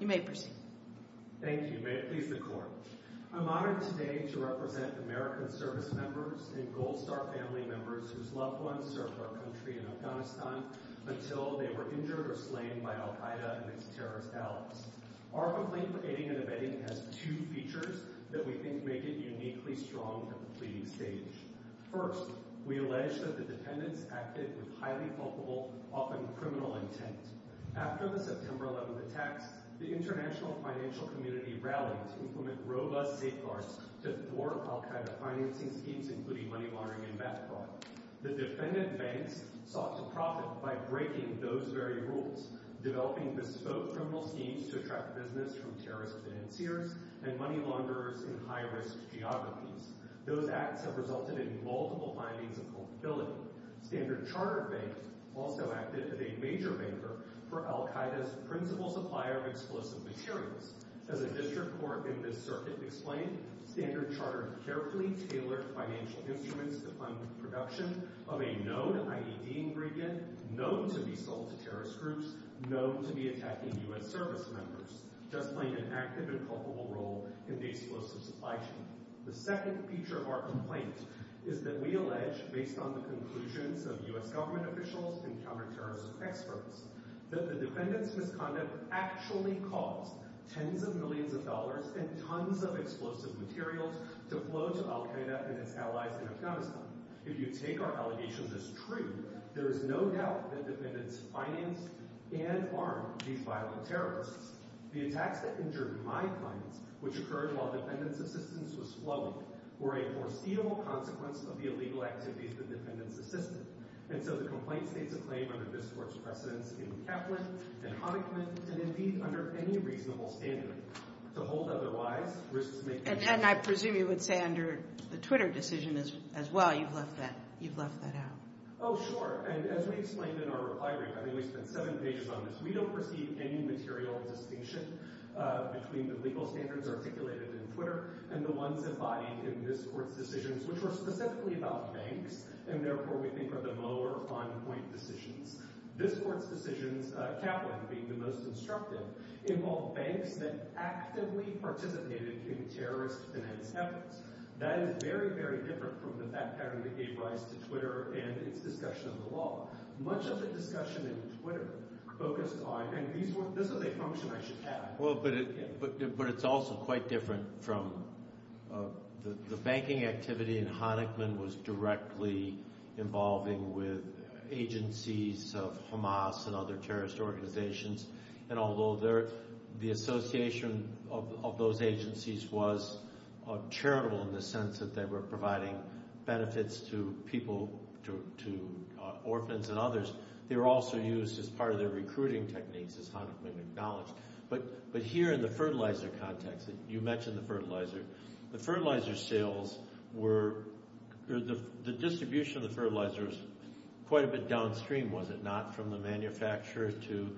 I am honored today to represent American servicemembers and Gold Star family members whose loved ones served our country in Afghanistan until they were injured or slain by al-Qaeda and its terrorist allies. Our complaint for aiding and abetting has two features that we think make it uniquely strong for the pleading stage. First, we allege that the defendants acted with highly fulfillable, often criminal intent. After the September 11 attacks, the international financial community rallied to implement robust safeguards to thwart al-Qaeda financing schemes including money laundering and meth fraud. The defendant banks sought to profit by breaking those very rules, developing bespoke criminal schemes to attract business from terrorist financiers and money launderers in high-risk geographies. Those acts have resulted in multiple findings of culpability. Standard Chartered Bank also acted as a major banker for al-Qaeda's principal supplier of explosive materials. As a district court in this circuit explained, Standard Chartered carefully tailored financial instruments to fund production of a known IED ingredient known to be sold to terrorist groups known to be attacking U.S. servicemembers, just playing an active and culpable role in the explosive supply chain. The second feature of our complaint is that we allege, based on the conclusions of U.S. government officials and counterterrorism experts, that the defendants' misconduct actually caused tens of millions of dollars and tons of explosive materials to flow to al-Qaeda and its allies in Afghanistan. If you take our allegations as true, there is no doubt that defendants financed and armed these violent terrorists. The attacks that injured my clients, which occurred while defendants' assistance was flowing, were a foreseeable consequence of the illegal activities the defendants assisted. And so the complaint states a claim under this Court's precedence in Kaplan and Honickman and, indeed, under any reasonable standard. To hold otherwise risks making... And I presume you would say under the Twitter decision as well, you've left that out. Oh, sure. And as we explained in our reply, I think we spent seven pages on this, we don't perceive any material distinction between the legal standards articulated in Twitter and the ones embodied in this Court's decisions, which were specifically about banks, and therefore we think are the lower on-point decisions. This Court's decisions, Kaplan being the most instructive, involved banks that actively participated in terrorist finance efforts. That is very, very different from the fact pattern that gave rise to Twitter and its discussion of the law. Much of the discussion in Twitter focused on... And this is a function I should add. Well, but it's also quite different from... The banking activity in Honickman was directly involving with agencies of Hamas and other terrorist organizations, and although the association of those agencies was charitable in the sense that they were providing benefits to people, to orphans and others, they were also used as part of their recruiting techniques, as Honickman acknowledged. But here in the fertilizer context, you mentioned the fertilizer, the fertilizer sales were... The distribution of the fertilizer was quite a bit downstream, was it not, from the manufacturer to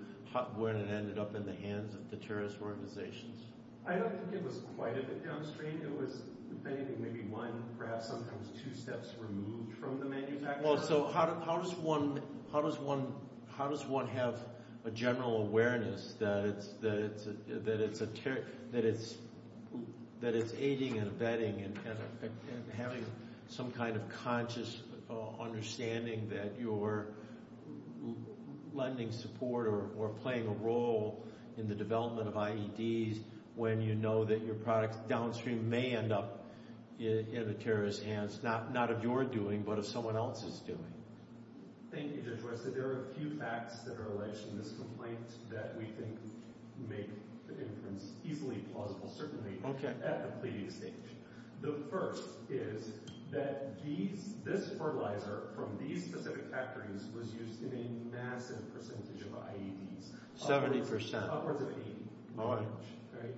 when it ended up in the hands of the terrorist organizations? I don't think it was quite a bit downstream. It was, if anything, maybe one, perhaps sometimes two steps removed from the manufacturer. Well, so how does one have a general awareness that it's a... That it's aiding and abetting and having some kind of conscious understanding that you're lending support or playing a role in the development of IEDs when you know that your product's going to end up in the terrorist's hands? Not of your doing, but of someone else's doing. Thank you, Judge West. There are a few facts that are alleged in this complaint that we think make the inference easily plausible, certainly at the pleading stage. The first is that this fertilizer from these specific factories was used in a massive percentage of IEDs. 70%. Upwards of 80.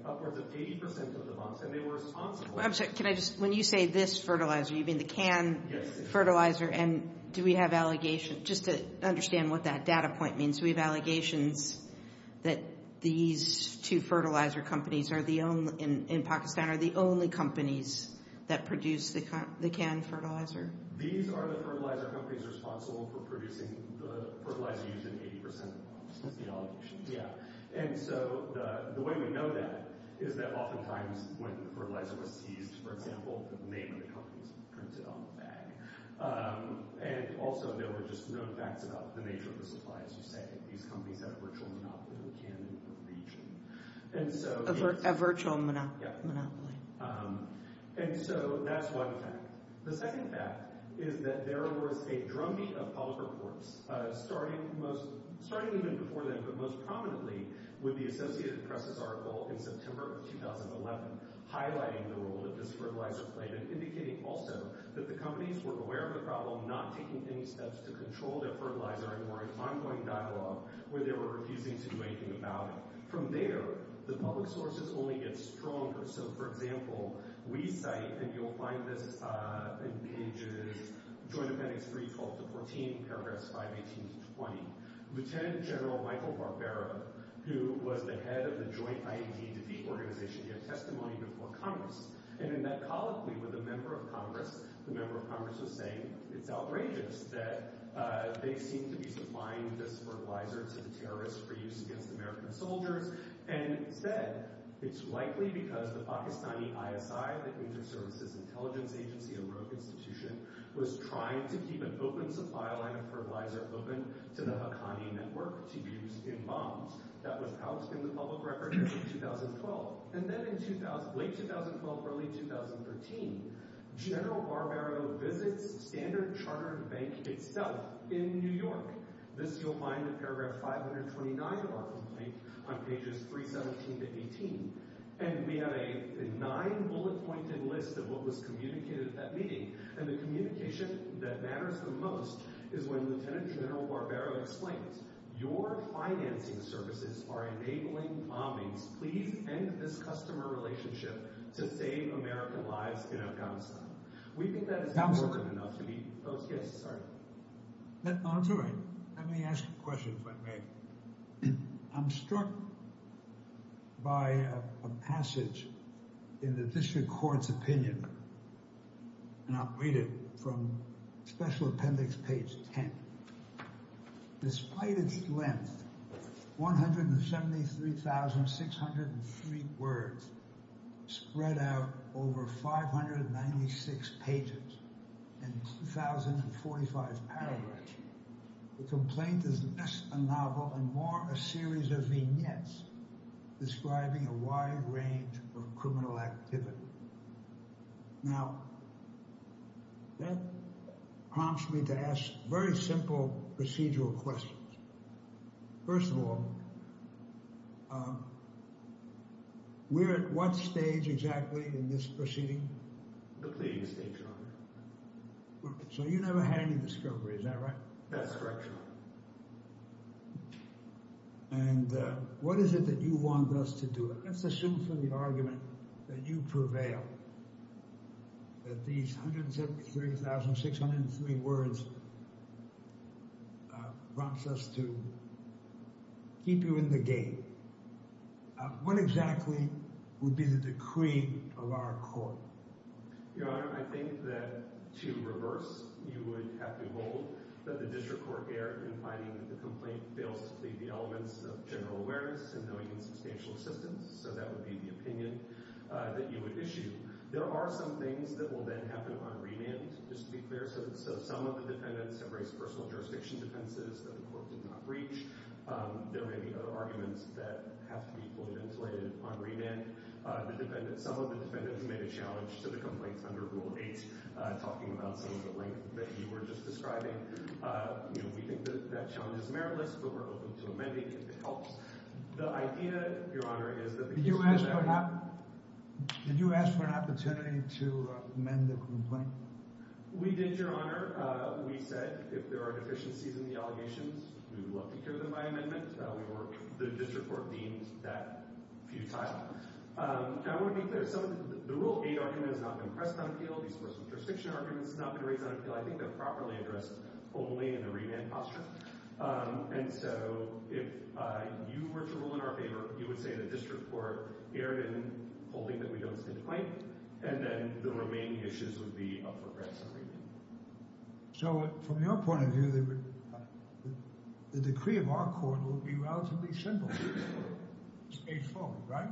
Upwards of 80% of the box, and they were responsible. I'm sorry, can I just... When you say this fertilizer, you mean the can fertilizer? Yes. And do we have allegations... Just to understand what that data point means, we have allegations that these two fertilizer companies in Pakistan are the only companies that produce the can fertilizer? These are the fertilizer companies responsible for producing the fertilizer used in 80% of the box. That's the allegation. Yeah. And so the way we know that is that oftentimes when the fertilizer was seized, for example, the name of the company is printed on the bag. And also there were just known facts about the nature of the supply, as you say. These companies have a virtual monopoly on the can in the region. A virtual monopoly. Yep. And so that's one fact. The second fact is that there was a drumbeat of public reports, starting even before then, but most prominently with the Associated Press' article in September of 2011, highlighting the role that this fertilizer played, and indicating also that the companies were aware of the problem, not taking any steps to control their fertilizer, and were in ongoing dialogue where they were refusing to do anything about it. From there, the public sources only get stronger. So, for example, we cite, and you'll find this in pages... 312-14, paragraphs 518-20. Lieutenant General Michael Barbera, who was the head of the joint INT defeat organization, gave testimony before Congress. And in that colloquy with a member of Congress, the member of Congress was saying it's outrageous that they seem to be supplying this fertilizer to the terrorists for use against American soldiers, and said it's likely because the Pakistani ISI, the Inter-Services Intelligence Agency, a rogue institution, was trying to keep an open supply line of fertilizer open to the Haqqani Network to use in bombs. That was housed in the public record in 2012. And then in late 2012, early 2013, General Barbera visits Standard Chartered Bank itself in New York. This, you'll find in paragraph 529 of our complaint, on pages 317-18. And we have a nine-bullet-pointed list of what was communicated at that meeting. And the communication that matters the most is when Lieutenant General Barbera explains, your financing services are enabling bombings. Please end this customer relationship to save American lives in Afghanistan. We think that is important enough to be... Oh, yes, sorry. That's all right. Let me ask a question if I may. I'm struck by a passage in the district court's opinion, and I'll read it from special appendix page 10. Despite its length, 173,603 words spread out over 596 pages and 2,045 paragraphs, the complaint is less a novel and more a series of vignettes describing a wide range of criminal activity. Now, that prompts me to ask very simple procedural questions. First of all, we're at what stage exactly in this proceeding? The pleading stage, Your Honor. So you never had any discovery, is that right? That's correct, Your Honor. And what is it that you want us to do? Let's assume for the argument that you prevail, that these 173,603 words prompts us to keep you in the game. What exactly would be the decree of our court? Your Honor, I think that to reverse, you would have to hold that the district court erred in finding that the complaint fails to plead the elements of general awareness and knowing and substantial assistance. So that would be the opinion that you would issue. There are some things that will then happen on remand, just to be clear. So some of the defendants have raised personal jurisdiction defenses that the court did not breach. There may be other arguments that have to be fully ventilated on remand. Some of the defendants made a challenge to the complaints under Rule 8, talking about some of the length that you were just describing. We think that that challenge is meritless, but we're open to amending if it helps. The idea, Your Honor, is that the case will be amended. Did you ask for an opportunity to amend the complaint? We did, Your Honor. We said if there are deficiencies in the allegations, we would love to hear them by amendment. The district court deemed that futile. I want to be clear. The Rule 8 argument has not been pressed on appeal. The personal jurisdiction argument has not been raised on appeal. I think they're properly addressed only in the remand posture. And so if you were to rule in our favor, you would say the district court erred in holding that we don't stand to complain, and then the remaining issues would be up for grabs on remand. So, from your point of view, the decree of our court will be relatively simple, right?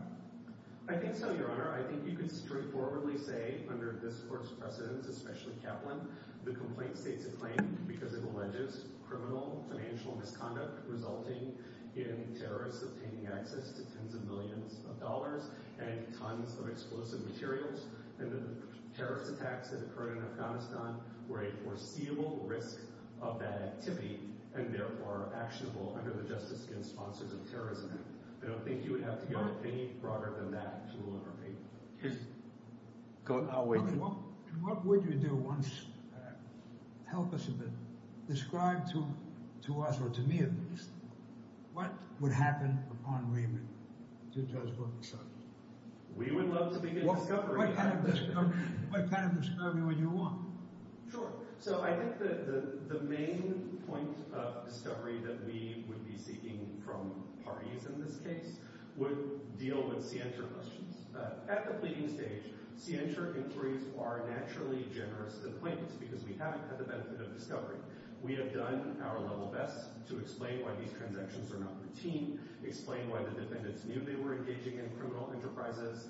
I think so, Your Honor. I think you could straightforwardly say, under this court's precedence, especially Kaplan, the complaint states a claim because it alleges criminal financial misconduct resulting in terrorists obtaining access to tens of millions of dollars and tons of explosive materials. And the terrorist attacks that occurred in Afghanistan were a foreseeable risk of that activity and, therefore, actionable under the Justice Against Sponsors of Terrorism Act. I don't think you would have to go any broader than that to rule in our favor. I'll wait. What would you do once—help us a bit—describe to us, or to me at least, what would happen upon remand to Judge Brooks? We would love to begin discovery. What kind of discovery would you want? Sure. So, I think the main point of discovery that we would be seeking from parties in this case would deal with scienter questions. At the pleading stage, scienter inquiries are naturally generous to the plaintiffs because we haven't had the benefit of discovery. We have done our level best to explain why these transactions are not routine, explain why the defendants knew they were engaging in criminal enterprises,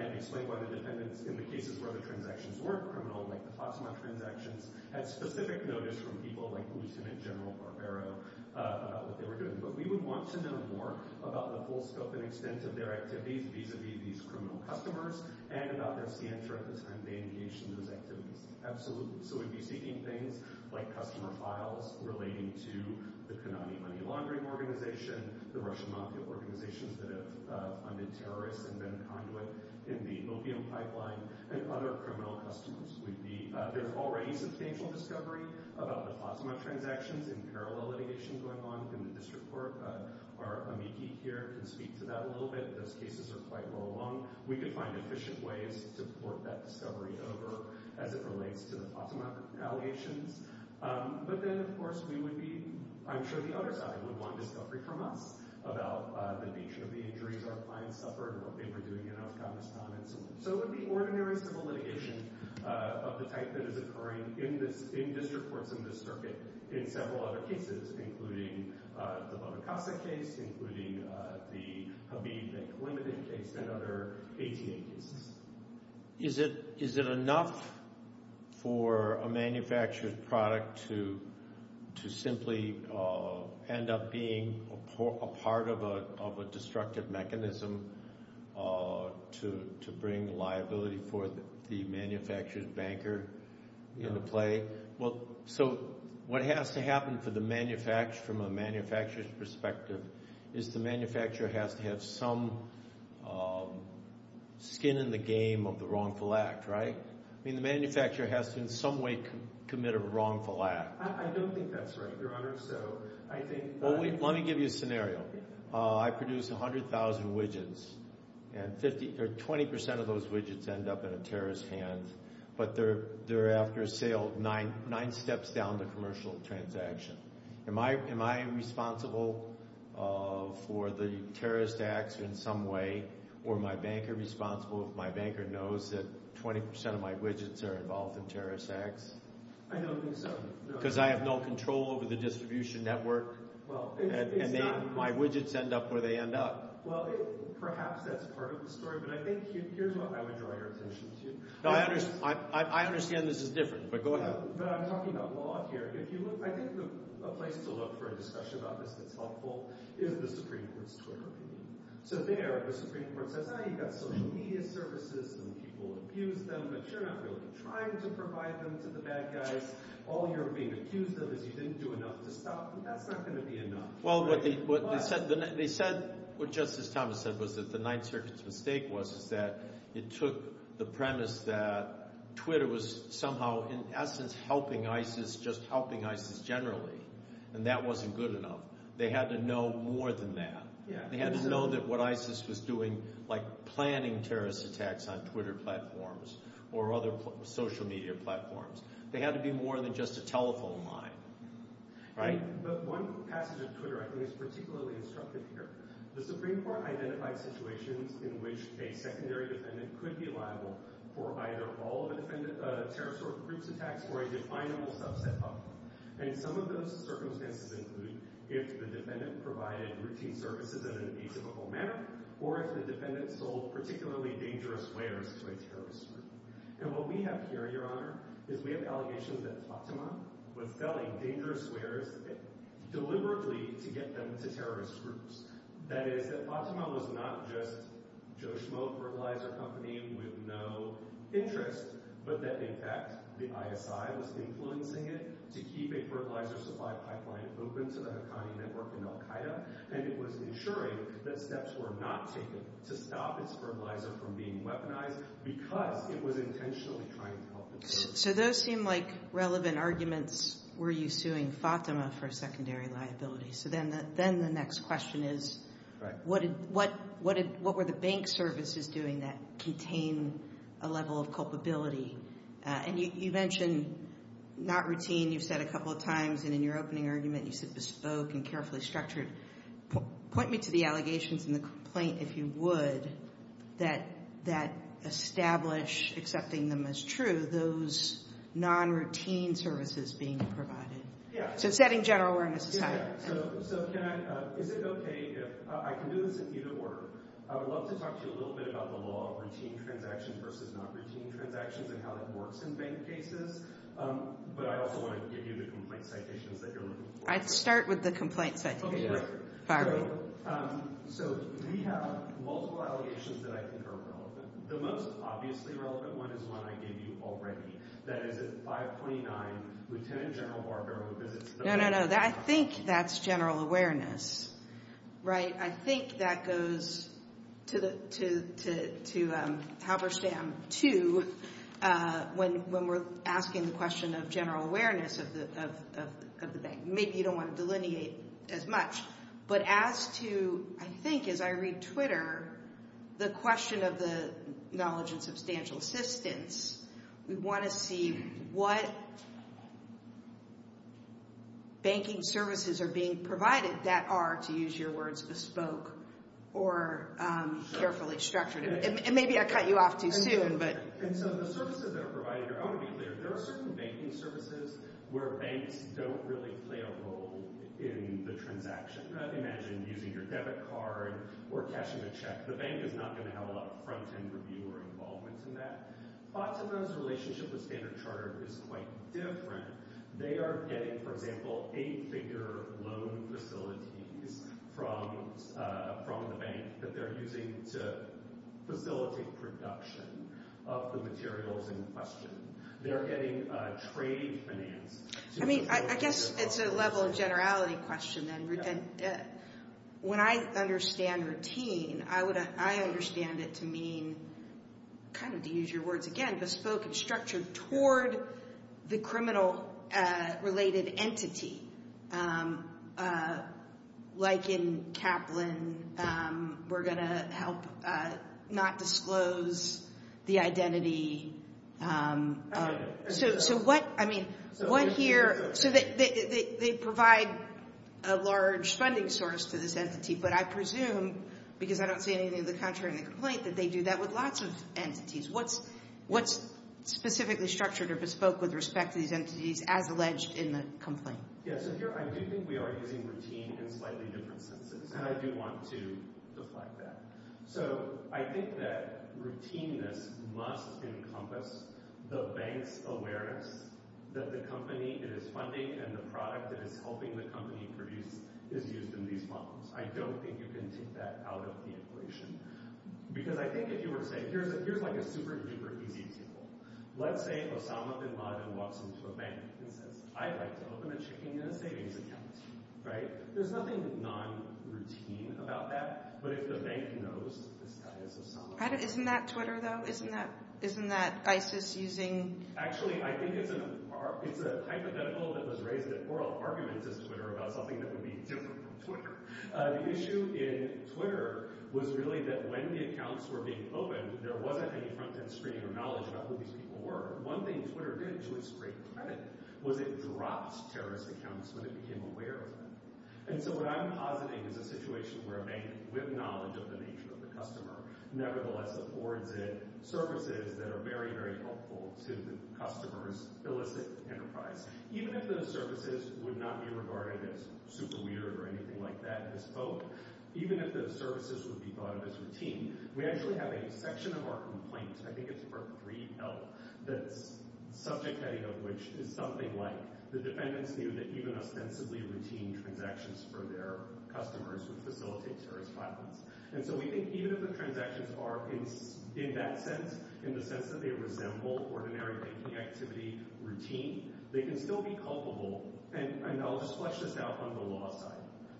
and explain why the defendants, in the cases where the transactions weren't criminal, like the FASMA transactions, had specific notice from people like Lieutenant General Barbero about what they were doing. But we would want to know more about the full scope and extent of their activities vis-a-vis these criminal customers and about their scienter at the time they engaged in those activities. Absolutely. So, we'd be seeking things like customer files relating to the Konami Money Laundering Organization, the Russian mafia organizations that have funded terrorists and been a conduit in the opium pipeline, and other criminal customers. There's already substantial discovery about the FASMA transactions and parallel litigation going on in the district court. Our amici here can speak to that a little bit. Those cases are quite well known. We could find efficient ways to port that discovery over as it relates to the FASMA allegations. But then, of course, we would be, I'm sure the other side would want discovery from us about the nature of the injuries our clients suffered, what they were doing in Afghanistan, and so on. So, it would be ordinary civil litigation of the type that is occurring in district courts in this circuit in several other cases, including the Barakasa case, including the Khabib, a limited case, and other ATA cases. Is it enough for a manufacturer's product to simply end up being a part of a destructive mechanism to bring liability for the manufacturer's banker into play? So, what has to happen for the manufacturer, from a manufacturer's perspective, is the manufacturer has to have some skin in the game of the wrongful act, right? I mean, the manufacturer has to in some way commit a wrongful act. I don't think that's right, Your Honor. Let me give you a scenario. I produce 100,000 widgets, and 20% of those widgets end up in a terrorist's hands, but they're after a sale nine steps down the commercial transaction. Am I responsible for the terrorist acts in some way, or my banker responsible if my banker knows that 20% of my widgets are involved in terrorist acts? I don't think so. Because I have no control over the distribution network, and my widgets end up where they end up. Well, perhaps that's part of the story, but I think here's what I would draw your attention to. I understand this is different, but go ahead. But I'm talking about law here. I think a place to look for a discussion about this that's helpful is the Supreme Court's Twitter opinion. So there, the Supreme Court says, ah, you've got social media services, and people abuse them, but you're not really trying to provide them to the bad guys. All you're being accused of is you didn't do enough to stop them. That's not going to be enough. Well, what they said, what Justice Thomas said was that the Ninth Circuit's mistake was that it took the premise that Twitter was somehow, in essence, helping ISIS, just helping ISIS generally, and that wasn't good enough. They had to know more than that. They had to know that what ISIS was doing, like planning terrorist attacks on Twitter platforms or other social media platforms, they had to be more than just a telephone line, right? But one passage of Twitter I think is particularly instructive here. The Supreme Court identified situations in which a secondary defendant could be liable for either all of a terrorist group's attacks or a definable subset of them. And some of those circumstances include if the defendant provided routine services in an atypical manner or if the defendant sold particularly dangerous wares to a terrorist group. And what we have here, Your Honor, is we have allegations that Fatima was selling dangerous wares deliberately to get them to terrorist groups. That is, that Fatima was not just Joe Schmoe Fertilizer Company with no interest, but that in fact the ISI was influencing it to keep a fertilizer supply pipeline open to the Haqqani Network in al-Qaeda, and it was ensuring that steps were not taken to stop its fertilizer from being weaponized So those seem like relevant arguments. Were you suing Fatima for a secondary liability? So then the next question is what were the bank services doing that contained a level of culpability? And you mentioned not routine. You've said a couple of times, and in your opening argument you said bespoke and carefully structured. Point me to the allegations in the complaint, if you would, that establish accepting them as true. Those non-routine services being provided. So setting general awareness aside. So is it okay if I can do this in unit order? I would love to talk to you a little bit about the law of routine transactions versus non-routine transactions and how that works in bank cases, but I also want to give you the complaint citations that you're looking for. I'd start with the complaint citation. So we have multiple allegations that I think are relevant. The most obviously relevant one is one I gave you already. That is at 529, Lieutenant General Barber who visits the bank. No, no, no. I think that's general awareness. Right? I think that goes to Halberstam, too, when we're asking the question of general awareness of the bank. Maybe you don't want to delineate as much. But as to, I think as I read Twitter, the question of the knowledge and substantial assistance, we want to see what banking services are being provided that are, to use your words, bespoke or carefully structured. And maybe I cut you off too soon. And so the services that are provided, I want to be clear. There are certain banking services where banks don't really play a role in the transaction. Imagine using your debit card or cashing a check. The bank is not going to have a lot of front-end review or involvement in that. Bots and Bonds' relationship with Standard Chartered is quite different. They are getting, for example, eight-figure loan facilities from the bank that they're using to facilitate production of the materials in question. They're getting trade finance. I mean, I guess it's a level of generality question then. When I understand routine, I understand it to mean, kind of to use your words again, bespoke and structured toward the criminal-related entity. Like in Kaplan, we're going to help not disclose the identity. So what, I mean, what here, so they provide a large funding source to this entity, but I presume, because I don't see anything of the contrary in the complaint, that they do that with lots of entities. What's specifically structured or bespoke with respect to these entities as alleged in the complaint? Yeah, so here I do think we are using routine in slightly different senses, and I do want to deflect that. So I think that routineness must encompass the bank's awareness that the company it is funding and the product it is helping the company produce is used in these funds. I don't think you can take that out of the equation, because I think if you were to say, here's like a super-duper easy example. Let's say Osama bin Laden walks into a bank and says, I'd like to open a checking and a savings account. There's nothing non-routine about that, but if the bank knows this guy is Osama bin Laden. Isn't that Twitter, though? Isn't that ISIS using? Actually, I think it's a hypothetical that was raised at oral arguments at Twitter about something that would be different from Twitter. The issue in Twitter was really that when the accounts were being opened, there wasn't any front-end screening or knowledge about who these people were. One thing Twitter did, to its great credit, was it dropped terrorist accounts when it became aware of them. And so what I'm positing is a situation where a bank, with knowledge of the nature of the customer, nevertheless affords it services that are very, very helpful to the customer's illicit enterprise. Even if those services would not be regarded as super-weird or anything like that, as folk. Even if those services would be thought of as routine. We actually have a section of our complaint, I think it's part 3L, the subject heading of which is something like, the defendants knew that even ostensibly routine transactions for their customers would facilitate terrorist violence. And so we think even if the transactions are, in that sense, in the sense that they resemble ordinary banking activity routine, they can still be culpable. And I'll just flesh this out on the law side.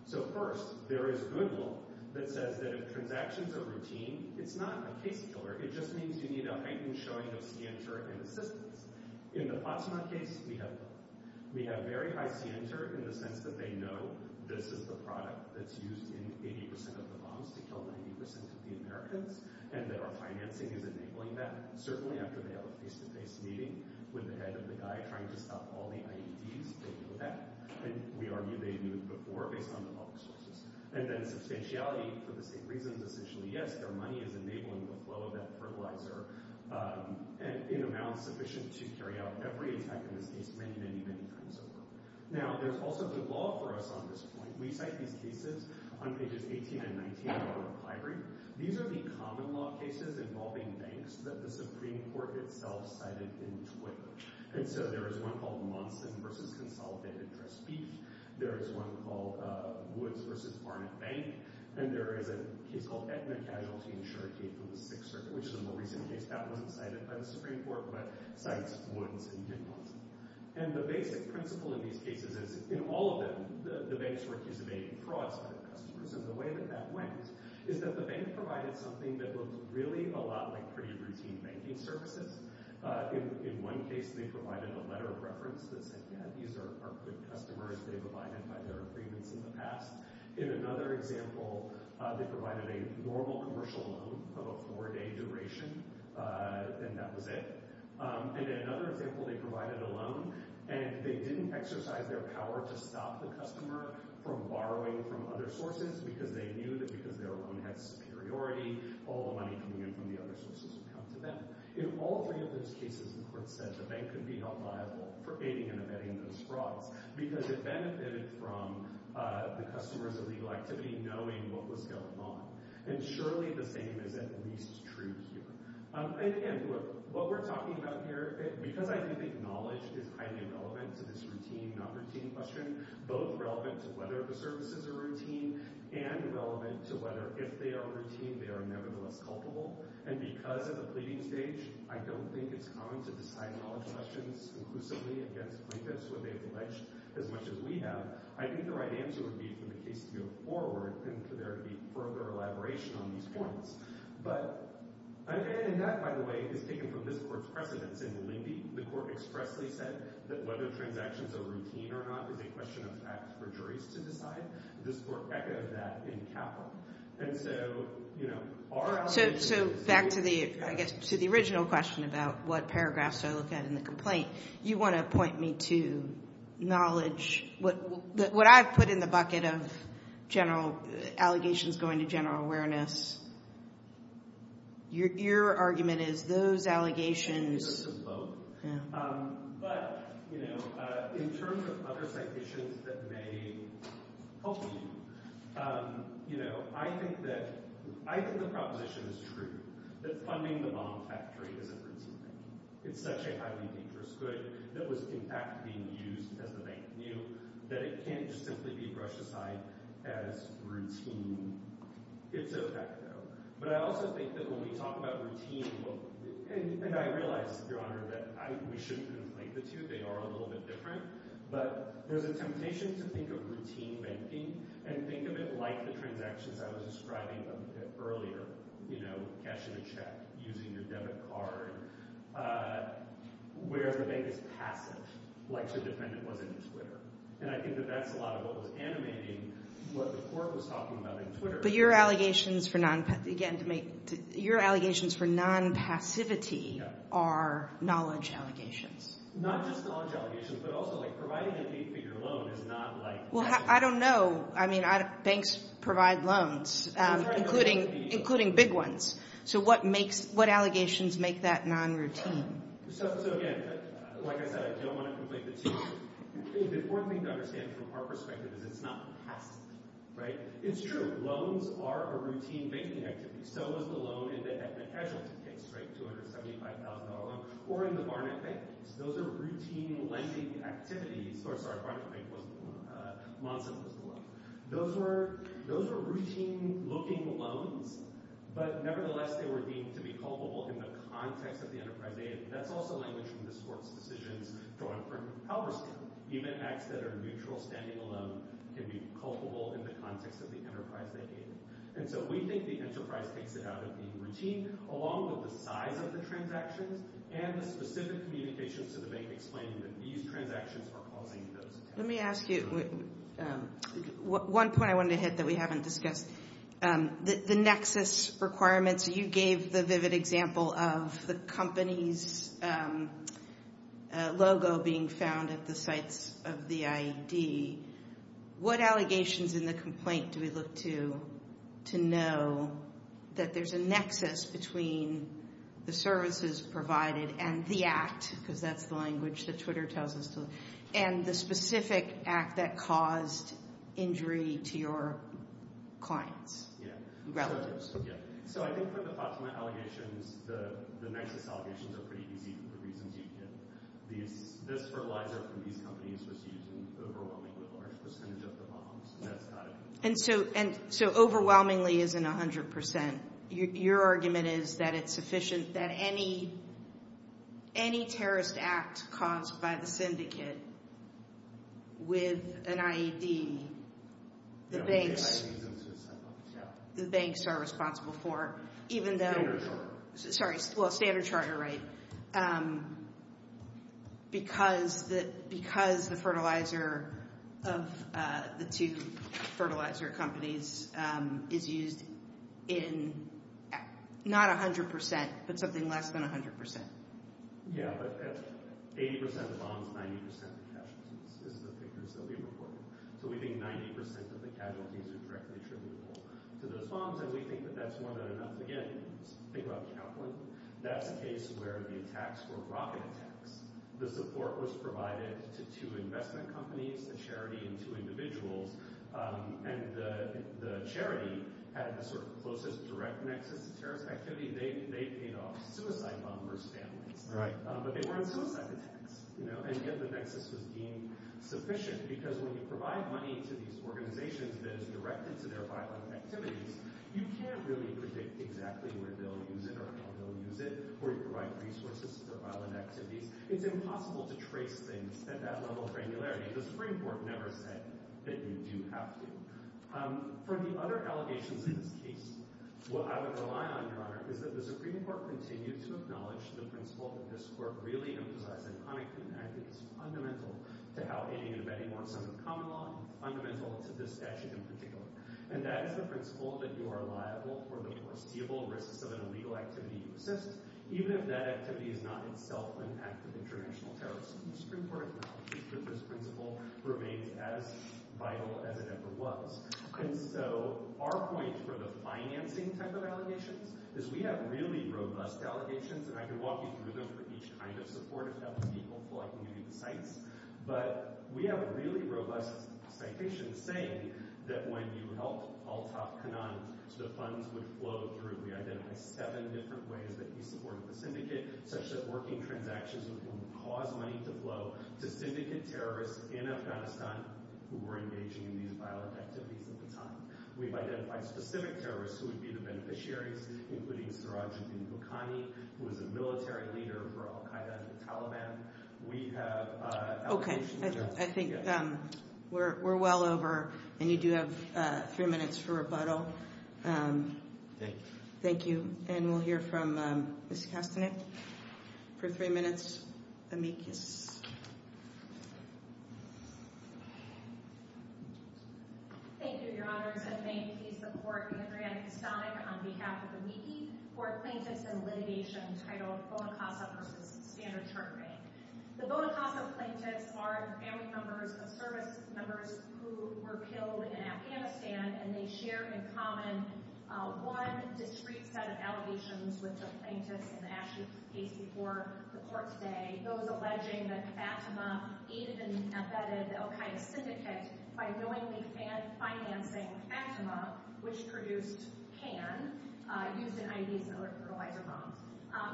So first, there is good law that says that if transactions are routine, it's not a case killer. It just means you need a heightened showing of scienter and assistance. In the Potsdam case, we have none. We have very high scienter in the sense that they know this is the product that's used in 80% of the bombs to kill 90% of the Americans, and that our financing is enabling that. Certainly after they have a face-to-face meeting with the head of the guy trying to stop all the IEDs, they know that. And we argue they knew before based on the public sources. And then substantiality for the same reasons. Essentially, yes, their money is enabling the flow of that fertilizer in amounts sufficient to carry out every attack in this case many, many, many times over. Now, there's also good law for us on this point. We cite these cases on pages 18 and 19 of our reply brief. These are the common law cases involving banks that the Supreme Court itself cited in Twitter. And so there is one called Monson v. Consolidated Dress Beef. There is one called Woods v. Barnett Bank. And there is a case called Edna Casualty Insurance from the Sixth Circuit, which is a more recent case. That wasn't cited by the Supreme Court, but cites Woods and did Monson. And the basic principle in these cases is, in all of them, the banks were accusing frauds by their customers. And the way that that went is that the bank provided something that looked really a lot like pretty routine banking services. In one case, they provided a letter of reference that said, yeah, these are good customers. They provided by their agreements in the past. In another example, they provided a normal commercial loan of a four-day duration, and that was it. And in another example, they provided a loan, and they didn't exercise their power to stop the customer from borrowing from other sources because they knew that because their loan had superiority, all the money coming in from the other sources would come to them. In all three of those cases, the court said the bank could be held liable for aiding and abetting those frauds because it benefited from the customer's illegal activity knowing what was going on. And surely the same is at least true here. And again, what we're talking about here, because I do think knowledge is highly relevant to this routine, not routine question, both relevant to whether the services are routine and relevant to whether, if they are routine, they are nevertheless culpable. And because at the pleading stage, I don't think it's common to decide knowledge questions conclusively against plaintiffs when they've alleged as much as we have, I think the right answer would be for the case to go forward and for there to be further elaboration on these points. And that, by the way, is taken from this court's precedence in Linde. The court expressly said that whether transactions are routine or not is a question of fact for juries to decide. The court echoed that in Kaplan. So back to the original question about what paragraphs to look at in the complaint, you want to point me to knowledge. What I've put in the bucket of allegations going to general awareness, your argument is those allegations. But in terms of other citations that may help you, I think the proposition is true, that funding the bomb factory is a routine thing. It's such a highly dangerous good that was in fact being used as the bank knew that it can't just simply be brushed aside as routine. It's a fact, though. But I also think that when we talk about routine, and I realize, Your Honor, that we shouldn't conflate the two. They are a little bit different. But there's a temptation to think of routine banking and think of it like the transactions I was describing earlier, you know, cashing a check, using your debit card, where the bank is passive, like your defendant was in your Twitter. And I think that that's a lot of what was animating what the court was talking about in Twitter. But your allegations for non-passivity are knowledge allegations. Not just knowledge allegations, but also like providing a fee for your loan is not like – Well, I don't know. I mean, banks provide loans, including big ones. So what allegations make that non-routine? So again, like I said, I don't want to conflate the two. The important thing to understand from our perspective is it's not passive, right? It's true. Loans are a routine banking activity. So is the loan in the ethnic casualty case, right, $275,000 loan, or in the Barnett Bank. Those are routine lending activities. Sorry, Barnett Bank wasn't the loan. Monson was the loan. Those were routine-looking loans, but nevertheless, they were deemed to be culpable in the context of the enterprise aid. That's also language from this court's decisions going up from Halverson. Even acts that are mutual standing alone can be culpable in the context of the enterprise they gave. And so we think the enterprise takes it out of being routine, along with the size of the transactions and the specific communications to the bank explaining that these transactions are causing those attacks. Let me ask you – one point I wanted to hit that we haven't discussed. The nexus requirements – you gave the vivid example of the company's logo being found at the sites of the IED. What allegations in the complaint do we look to to know that there's a nexus between the services provided and the act – because that's the language that Twitter tells us – and the specific act that caused injury to your clients? Yeah. Relatives. Yeah. So I think for the FATMA allegations, the nexus allegations are pretty easy for the reasons you give. This fertilizer from these companies was used in overwhelmingly large percentage of the bombs. And so overwhelmingly isn't 100%. Your argument is that it's sufficient that any terrorist act caused by the syndicate with an IED, the banks are responsible for, even though – sorry, standard charter, right – because the fertilizer of the two fertilizer companies is used in not 100%, but something less than 100%. Yeah, but 80% of bombs, 90% of casualties is the figures that we reported. So we think 90% of the casualties are directly attributable to those bombs, and we think that that's more than enough. Again, think about Kaplan. That's a case where the attacks were rocket attacks. The support was provided to two investment companies, the charity, and two individuals. And the charity had the sort of closest direct nexus to terrorist activity. They paid off suicide bombers' families. But they weren't suicide attacks. And yet the nexus was deemed sufficient, because when you provide money to these organizations that is directed to their violent activities, you can't really predict exactly where they'll use it or how they'll use it, or you provide resources to their violent activities. It's impossible to trace things at that level of granularity. The Supreme Court never said that you do have to. From the other allegations in this case, what I would rely on, Your Honor, is that the Supreme Court continue to acknowledge the principle that this Court really emphasized in Huntington, and I think it's fundamental to how any and many more sons of common law, and fundamental to this statute in particular. And that is the principle that you are liable for the foreseeable risks of an illegal activity you assist, even if that activity is not itself an act of international terrorism. The Supreme Court acknowledges that this principle remains as vital as it ever was. And so our point for the financing type of allegations is we have really robust allegations, and I can walk you through them for each kind of support if that would be helpful. I can give you the cites. But we have really robust citations saying that when you helped Altaf Kanan, the funds would flow through. We identified seven different ways that he supported the syndicate, such that working transactions would cause money to flow to syndicate terrorists in Afghanistan who were engaging in these violent activities at the time. We've identified specific terrorists who would be the beneficiaries, including Sirajuddin Bukhani, who was a military leader for al-Qaeda and the Taliban. We have allegations there. Okay. I think we're well over, and you do have a few minutes for rebuttal. Thank you. Thank you. And we'll hear from Ms. Kastanek for three minutes. Amikis. Thank you, Your Honors. And may it please the Court, I'm Adrienne Kastanek on behalf of Amiki, for plaintiffs and litigation entitled Bonacosta v. Standard Turkey. The Bonacosta plaintiffs are family members of servicemembers who were killed in Afghanistan, and they share in common one discrete set of allegations with the plaintiffs in the Ashraf case before the Court today, those alleging that Fatima even abetted the al-Qaeda syndicate by knowingly financing Fatima, which produced pan, used in IEDs and other fertilizer bombs.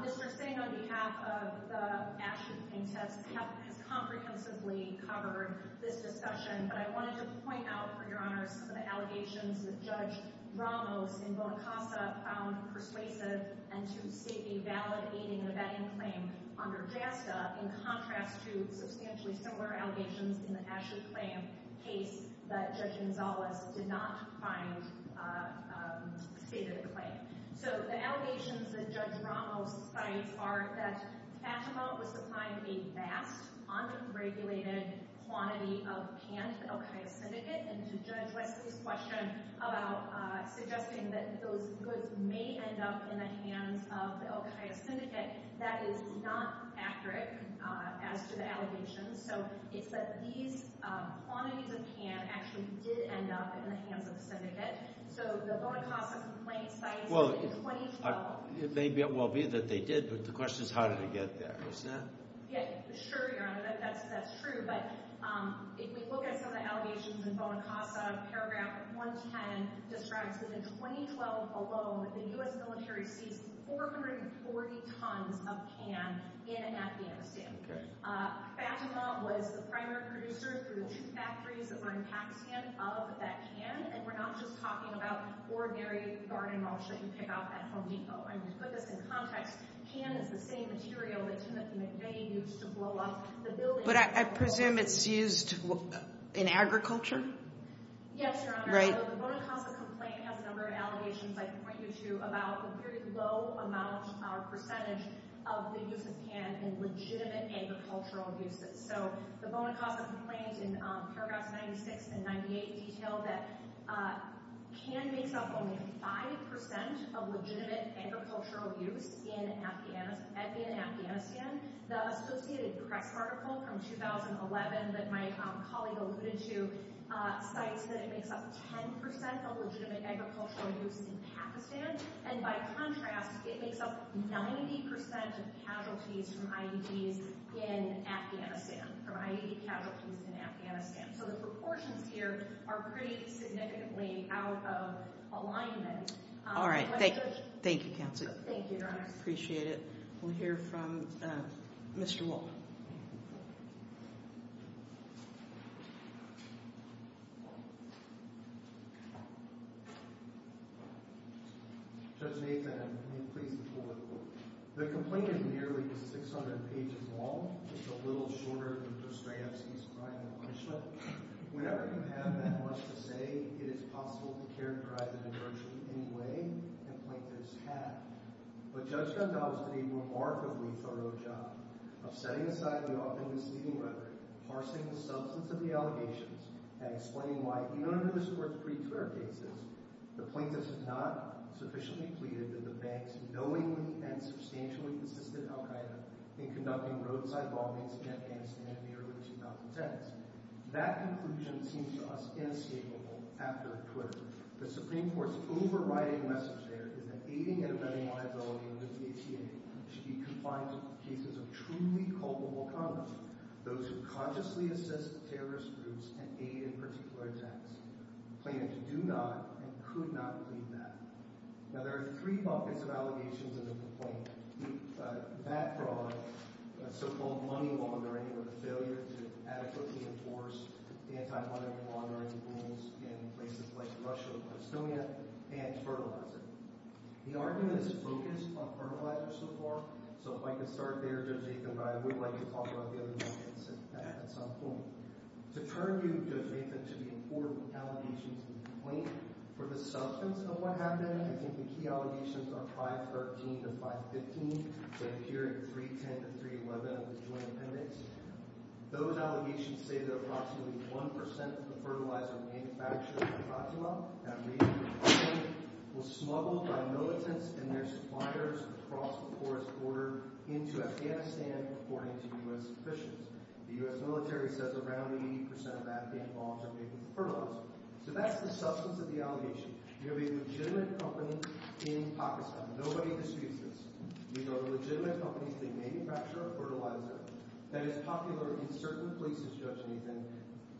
Mr. Singh, on behalf of the Ashraf plaintiffs, has comprehensively covered this discussion, but I wanted to point out, for Your Honors, some of the allegations that Judge Ramos in Bonacosta found persuasive and to state a valid aiding and abetting claim under JASTA in contrast to substantially similar allegations in the Ashraf claim case that Judge Gonzalez did not find stated a claim. So the allegations that Judge Ramos cites are that Fatima was supplying a vast, unregulated quantity of pan to the al-Qaeda syndicate, and Judge Wesley's question about suggesting that those goods may end up in the hands of the al-Qaeda syndicate, that is not accurate as to the allegations. So it's that these quantities of pan actually did end up in the hands of the syndicate. So the Bonacosta complaint cites it in 2012. It may well be that they did, but the question is how did it get there. Sure, Your Honor, that's true. But if we look at some of the allegations in Bonacosta, paragraph 110 describes that in 2012 alone, the U.S. military seized 440 tons of pan in Afghanistan. Fatima was the primary producer through the two factories that were in Pakistan of that pan, and we're not just talking about ordinary garden mulch that you pick up at Home Depot. To put this in context, pan is the same material that Timothy McVeigh used to blow up the building. But I presume it's used in agriculture? Yes, Your Honor. Right. The Bonacosta complaint has a number of allegations I can point you to about the very low amount or percentage of the use of pan in legitimate agricultural uses. So the Bonacosta complaint in paragraphs 96 and 98 detail that pan makes up only 5% of legitimate agricultural use in Afghanistan. The Associated Press article from 2011 that my colleague alluded to cites that it makes up 10% of legitimate agricultural use in Pakistan, and by contrast, it makes up 90% of casualties from IEDs in Afghanistan, from IED casualties in Afghanistan. So the proportions here are pretty significantly out of alignment. All right. Thank you. Thank you, counsel. Thank you, Your Honor. Appreciate it. We'll hear from Mr. Wall. Judge Nathan, can you please support the court? The complaint is nearly 600 pages long. It's a little shorter than Dostoyevsky's Crime and Punishment. Whenever you have that much to say, it is possible to characterize it in virtually any way, and plaintiffs have. But Judge Gondal has done a remarkably thorough job of setting aside the often misleading rhetoric, parsing the substance of the allegations, and explaining why, even under this Court's pre-clear cases, the plaintiffs have not sufficiently pleaded that the banks knowingly and substantially assisted al Qaeda in conducting roadside bombings against Afghanistan in the early 2010s. That conclusion seems to us inescapable after Twitter. The Supreme Court's overriding message there is that aiding and abetting liability under the ACA should be compliant with cases of truly culpable conduct. Those who consciously assist terrorist groups and aid in particular attacks. Plaintiffs do not and could not plead that. Now, there are three buckets of allegations in the complaint. That fraud, so-called money laundering or the failure to adequately enforce anti-money laundering rules in places like Russia and Estonia, and fertilizer. The argument is focused on fertilizer so far. So if I could start there, Judge Nathan, but I would like to talk about the other buckets at some point. To turn you, Judge Nathan, to the important allegations in the complaint for the substance of what happened. I think the key allegations are 513 to 515. They appear in 310 to 311 of the Joint Appendix. Those allegations say that approximately 1% of the fertilizer manufactured in Fatima, and I'm reading from the complaint, was smuggled by militants and their suppliers across the forest border into Afghanistan according to U.S. officials. The U.S. military says around 80% of Afghan bombs are made from fertilizer. So that's the substance of the allegation. You have a legitimate company in Pakistan. Nobody disputes this. These are legitimate companies. They manufacture a fertilizer that is popular in certain places, Judge Nathan,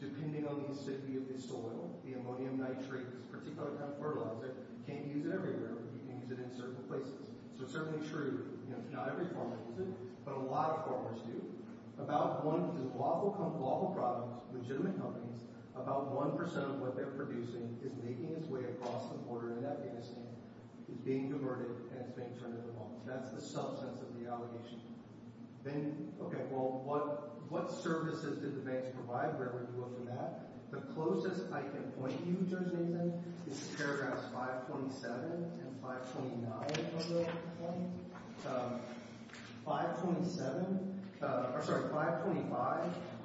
depending on the acidity of the soil, the ammonium nitrate. This particular kind of fertilizer, you can't use it everywhere. You can use it in certain places. So it's certainly true. Not every farmer uses it, but a lot of farmers do. About 1% of what they're producing is making its way across the border in Afghanistan, is being diverted, and it's being turned into bombs. That's the substance of the allegation. Then, okay, well, what services did the banks provide wherever you look from that? The closest I can point you, Judge Nathan, is paragraphs 527 and 529 of the complaint. 527—or, sorry, 525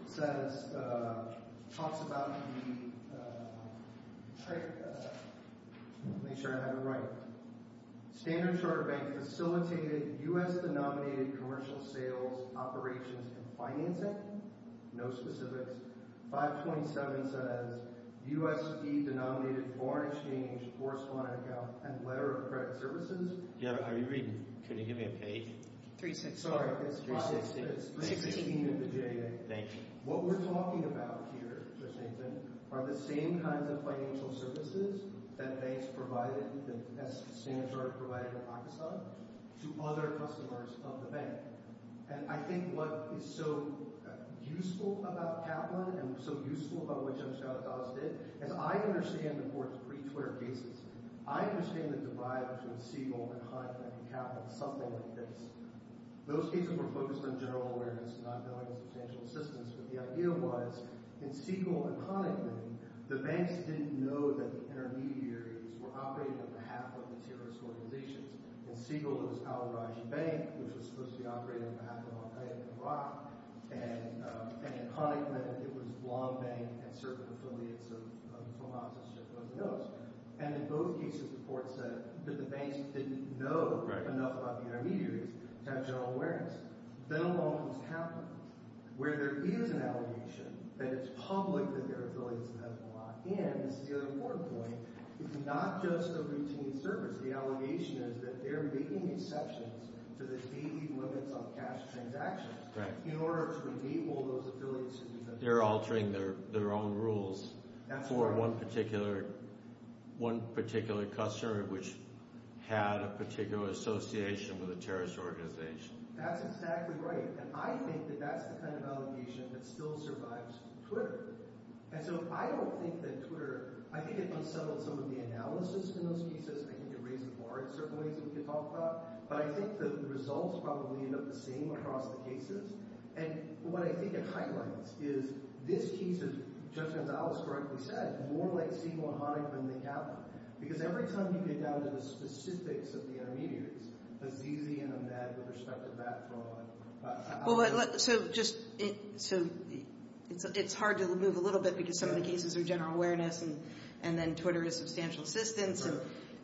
says—talks about the—let me make sure I have it right. Standard Chartered Bank facilitated U.S.-denominated commercial sales operations and financing. No specifics. 527 says U.S.-denominated foreign exchange correspondent account and letter of credit services. Are you reading? Can you give me a page? 316. Sorry, it's 516. 316. It's 316 in the J.A. Thank you. What we're talking about here, Judge Nathan, are the same kinds of financial services that banks provided, that Standard Chartered provided in Pakistan, to other customers of the bank. And I think what is so useful about Kaplan and so useful about what Judge Gauz did, as I understand the court's pretrial cases, I understand the divide between Siegel and Honigman and Kaplan, something like this. Those cases were focused on general awareness, not knowing substantial assistance, but the idea was, in Siegel and Honigman, the banks didn't know that the intermediaries were operating on behalf of the terrorist organizations. In Siegel, it was Al-Raj Bank, which was supposed to be operating on behalf of al-Qaeda in Iraq, and in Honigman, it was Long Bank and certain affiliates of FOMOX, and so forth and those. And in both cases, the court said that the banks didn't know enough about the intermediaries to have general awareness. Then along comes Kaplan, where there is an allegation that it's public that their affiliates have been locked in. This is the other important point. It's not just a routine service. The allegation is that they're making exceptions to the daily limits on cash transactions in order to enable those affiliates. They're altering their own rules for one particular customer which had a particular association with a terrorist organization. That's exactly right, and I think that that's the kind of allegation that still survives Twitter. And so I don't think that Twitter – I think it unsettled some of the analysis in those cases. I think it raised the bar in certain ways that we could talk about, but I think the results probably end up the same across the cases. And what I think it highlights is this case, as Judge Gonzalez correctly said, is more like Siegel and Honigman than Kaplan because every time you get down to the specifics of the intermediaries, a ZZ and a MED with respect to that from a – Well, so just – so it's hard to move a little bit because some of the cases are general awareness, and then Twitter is substantial assistance,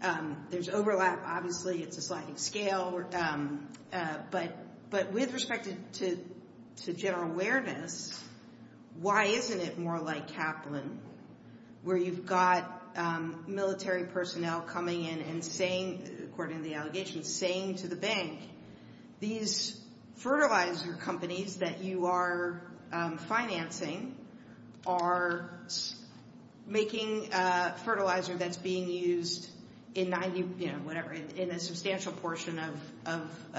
and there's overlap. Obviously, it's a sliding scale, but with respect to general awareness, why isn't it more like Kaplan where you've got military personnel coming in and saying, according to the allegation, saying to the bank, these fertilizer companies that you are financing are making fertilizer that's being used in 90 – whatever, in a substantial portion of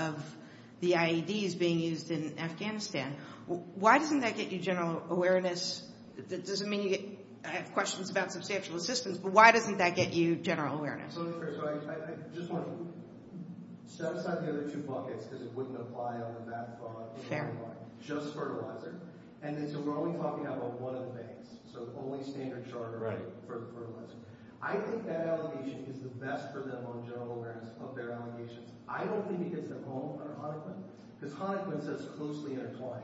the IEDs being used in Afghanistan. Why doesn't that get you general awareness? It doesn't mean you have questions about substantial assistance, but why doesn't that get you general awareness? So first of all, I just want to set aside the other two buckets because it wouldn't apply on the math part. Just fertilizer. And then so we're only talking about one of the banks, so only standard charter for the fertilizer. I think that allegation is the best for them on general awareness of their allegations. I don't think it gets them home under Honigman because Honigman says closely intertwined,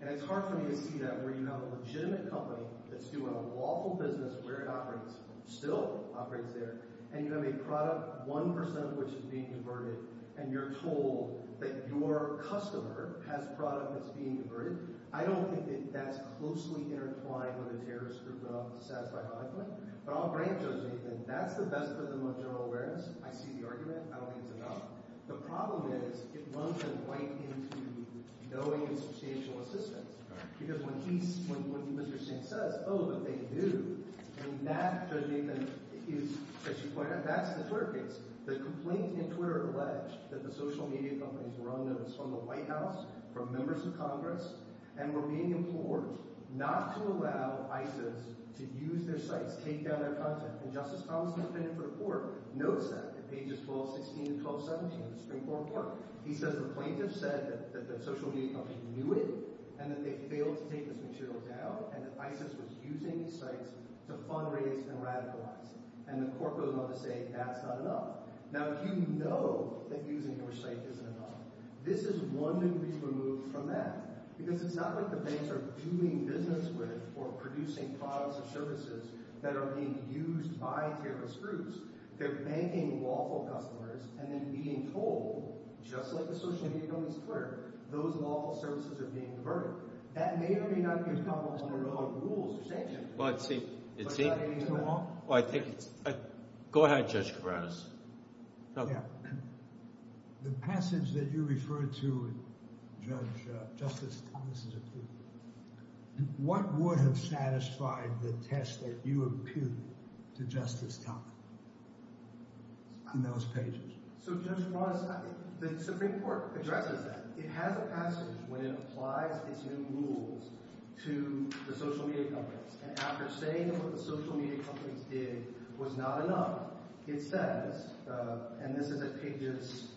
and it's hard for me to see that where you have a legitimate company that's doing a lawful business where it operates, still operates there, and you have a product, 1 percent of which is being converted, and you're told that your customer has product that's being converted. I don't think that that's closely intertwined with a terrorist group to satisfy Honigman, but I'll grant Judge Nathan that's the best for them on general awareness. I see the argument. I don't think it's enough. The problem is it won't get them right into knowing substantial assistance because when he's – and that, Judge Nathan, is – as you pointed out, that's the Twitter case. The complaint in Twitter alleged that the social media companies were unnoticed from the White House, from members of Congress, and were being implored not to allow ISIS to use their sites, take down their content. And Justice Thomas, the defendant for the court, notes that at pages 1216 and 1217 of the Supreme Court report. He says the plaintiff said that the social media company knew it and that they failed to take this material down and that ISIS was using these sites to fundraise and radicalize. And the court goes on to say that's not enough. Now, if you know that using your site isn't enough, this is one that would be removed from that because it's not like the banks are doing business with or producing products or services that are being used by terrorist groups. They're banking lawful customers and then being told, just like the social media companies Twitter, those lawful services are being converted. That may or may not be a problem under their own rules. Well, I think – go ahead, Judge Kavranos. The passage that you referred to, Justice Thomas, what would have satisfied the test that you imputed to Justice Thomas in those pages? So, Judge Kavranos, the Supreme Court addresses that. It has a passage when it applies its new rules to the social media companies. And after saying that what the social media companies did was not enough, it says – and this is at pages –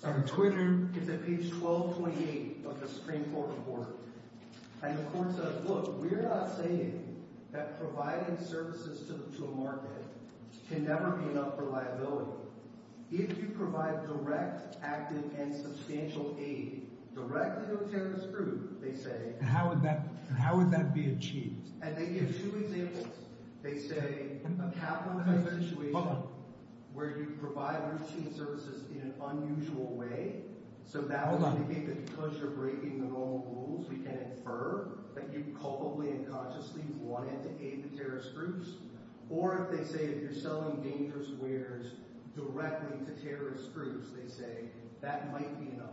Sorry, Twitter. It's at page 1228 of the Supreme Court report. And the court says, look, we're not saying that providing services to a market can never be enough for liability. If you provide direct, active, and substantial aid directly to a terrorist group, they say – And how would that be achieved? And they give two examples. They say, have you ever had a situation where you provide routine services in an unusual way? So that would mean that because you're breaking the normal rules, we can infer that you culpably and consciously wanted to aid the terrorist groups. Or they say if you're selling dangerous wares directly to terrorist groups, they say, that might be enough.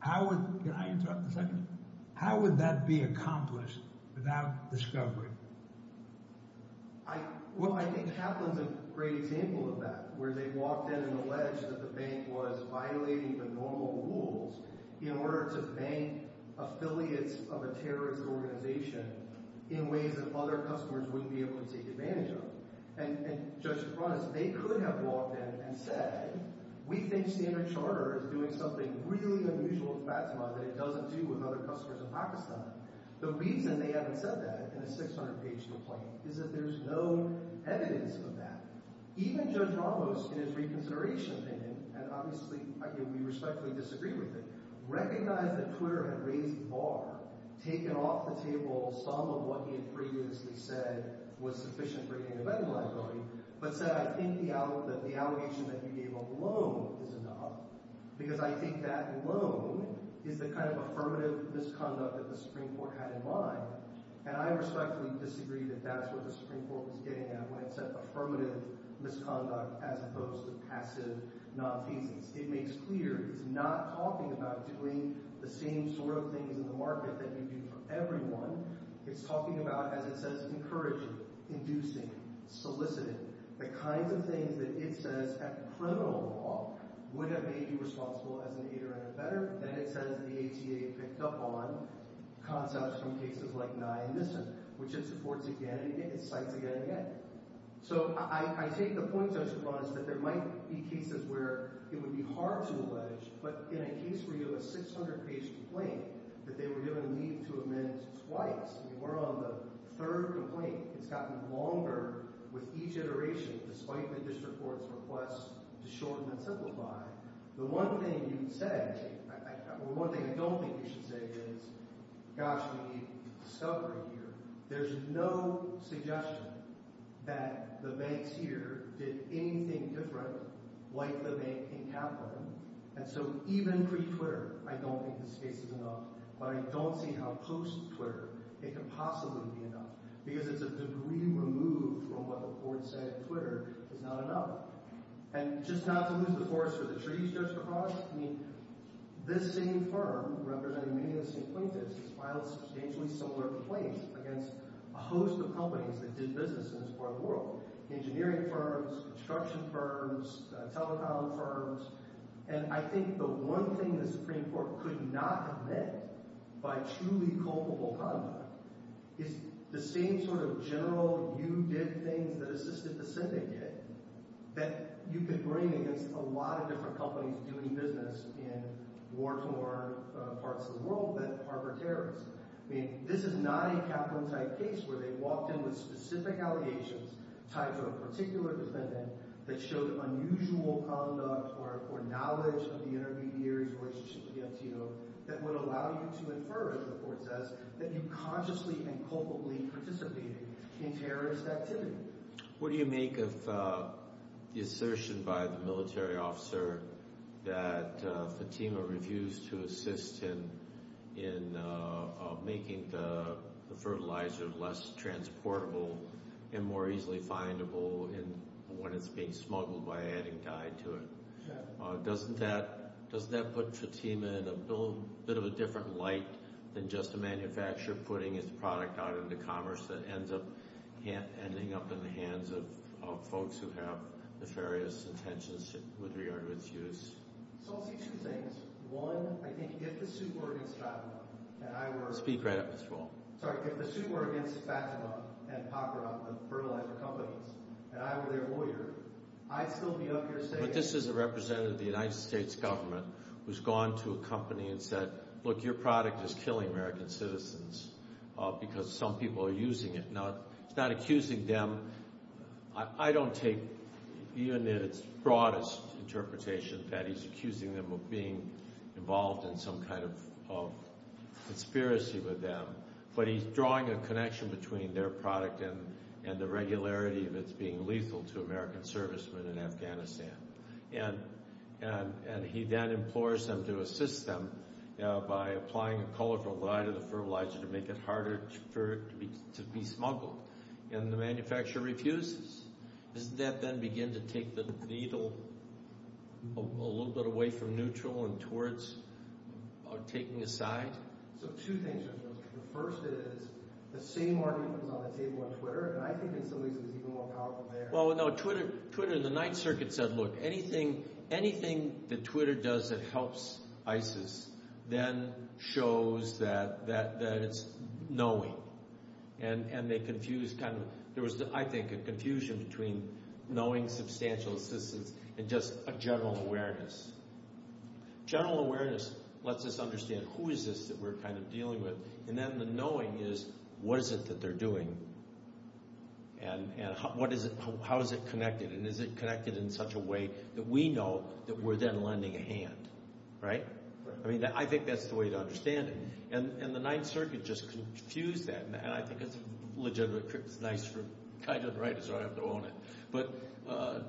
How would – can I interrupt for a second? How would that be accomplished without discovery? Well, I think Kaplan's a great example of that where they walked in and alleged that the bank was violating the normal rules in order to bank affiliates of a terrorist organization in ways that other customers wouldn't be able to take advantage of. And Judge DeFrancois, they could have walked in and said, we think Standard Charter is doing something really unusual with Fatima that it doesn't do with other customers in Pakistan. The reason they haven't said that in a 600-page complaint is that there's no evidence of that. Even Judge Ramos, in his reconsideration opinion – and obviously we respectfully disagree with it – recognized that Twitter had raised the bar, taken off the table some of what he had previously said was sufficient for getting a vetting liability, but said, I think the allegation that you gave alone is enough because I think that alone is the kind of affirmative misconduct that the Supreme Court had in mind. And I respectfully disagree that that's what the Supreme Court was getting at when it said affirmative misconduct as opposed to passive non-feasance. It makes clear it's not talking about doing the same sort of things in the market that you do for everyone. It's talking about, as it says, encouraging, inducing, soliciting, the kinds of things that it says at criminal law would have made you responsible as an aider and a veteran. Then it says the ATA picked up on concepts from cases like Nye and Nissen, which it supports again and again. It cites again and again. So I take the point, Judge Ramos, that there might be cases where it would be hard to allege, but in a case where you have a 600-page complaint that they were given leave to amend twice. We're on the third complaint. It's gotten longer with each iteration despite the district court's request to shorten and simplify. The one thing you would say – or one thing I don't think you should say is, gosh, we need discovery here. There's no suggestion that the banks here did anything different like the bank in Capital. And so even pre-Twitter, I don't think this case is enough. But I don't see how post-Twitter it could possibly be enough because it's a degree removed from what the court said Twitter is not enough. And just not to lose the forest for the trees, Judge Kaposch, I mean this same firm representing many of the same plaintiffs has filed substantially similar complaints against a host of companies that did business in this part of the world – engineering firms, construction firms, telecom firms. And I think the one thing the Supreme Court could not have meant by truly culpable conduct is the same sort of general you-did-things-that-assisted-the-Senate did that you could bring against a lot of different companies doing business in war-torn parts of the world that harbor terrorists. I mean this is not a Kaplan-type case where they walked in with specific allegations tied to a particular defendant that showed unusual conduct or knowledge of the intermediary's relationship with the Antillo that would allow you to infer, as the court says, that you consciously and culpably participated in terrorist activity. What do you make of the assertion by the military officer that Fatima refused to assist him in making the fertilizer less transportable and more easily findable when it's being smuggled by adding dye to it? Doesn't that put Fatima in a bit of a different light than just a manufacturer putting his product out into commerce that ends up ending up in the hands of folks who have nefarious intentions with regard to its use? So I'll say two things. One, I think if the suit were against Fatima and I were their lawyer, I'd still be up here saying… accusing them of being involved in some kind of conspiracy with them. But he's drawing a connection between their product and the regularity of its being lethal to American servicemen in Afghanistan. And he then implores them to assist them by applying a colorful dye to the fertilizer to make it harder for it to be smuggled. And the manufacturer refuses. Doesn't that then begin to take the needle a little bit away from neutral and towards taking a side? So two things. The first is the same argument is on the table on Twitter. And I think in some ways it's even more powerful there. And then the knowing is, what is it that they're doing? And how is it connected? And is it connected in such a way that we know that we're then lending a hand? Right? I mean, I think that's the way to understand it. And the Ninth Circuit just confused that. And I think it's a legitimate… it's nice for… Kai doesn't write, so I don't have to own it. But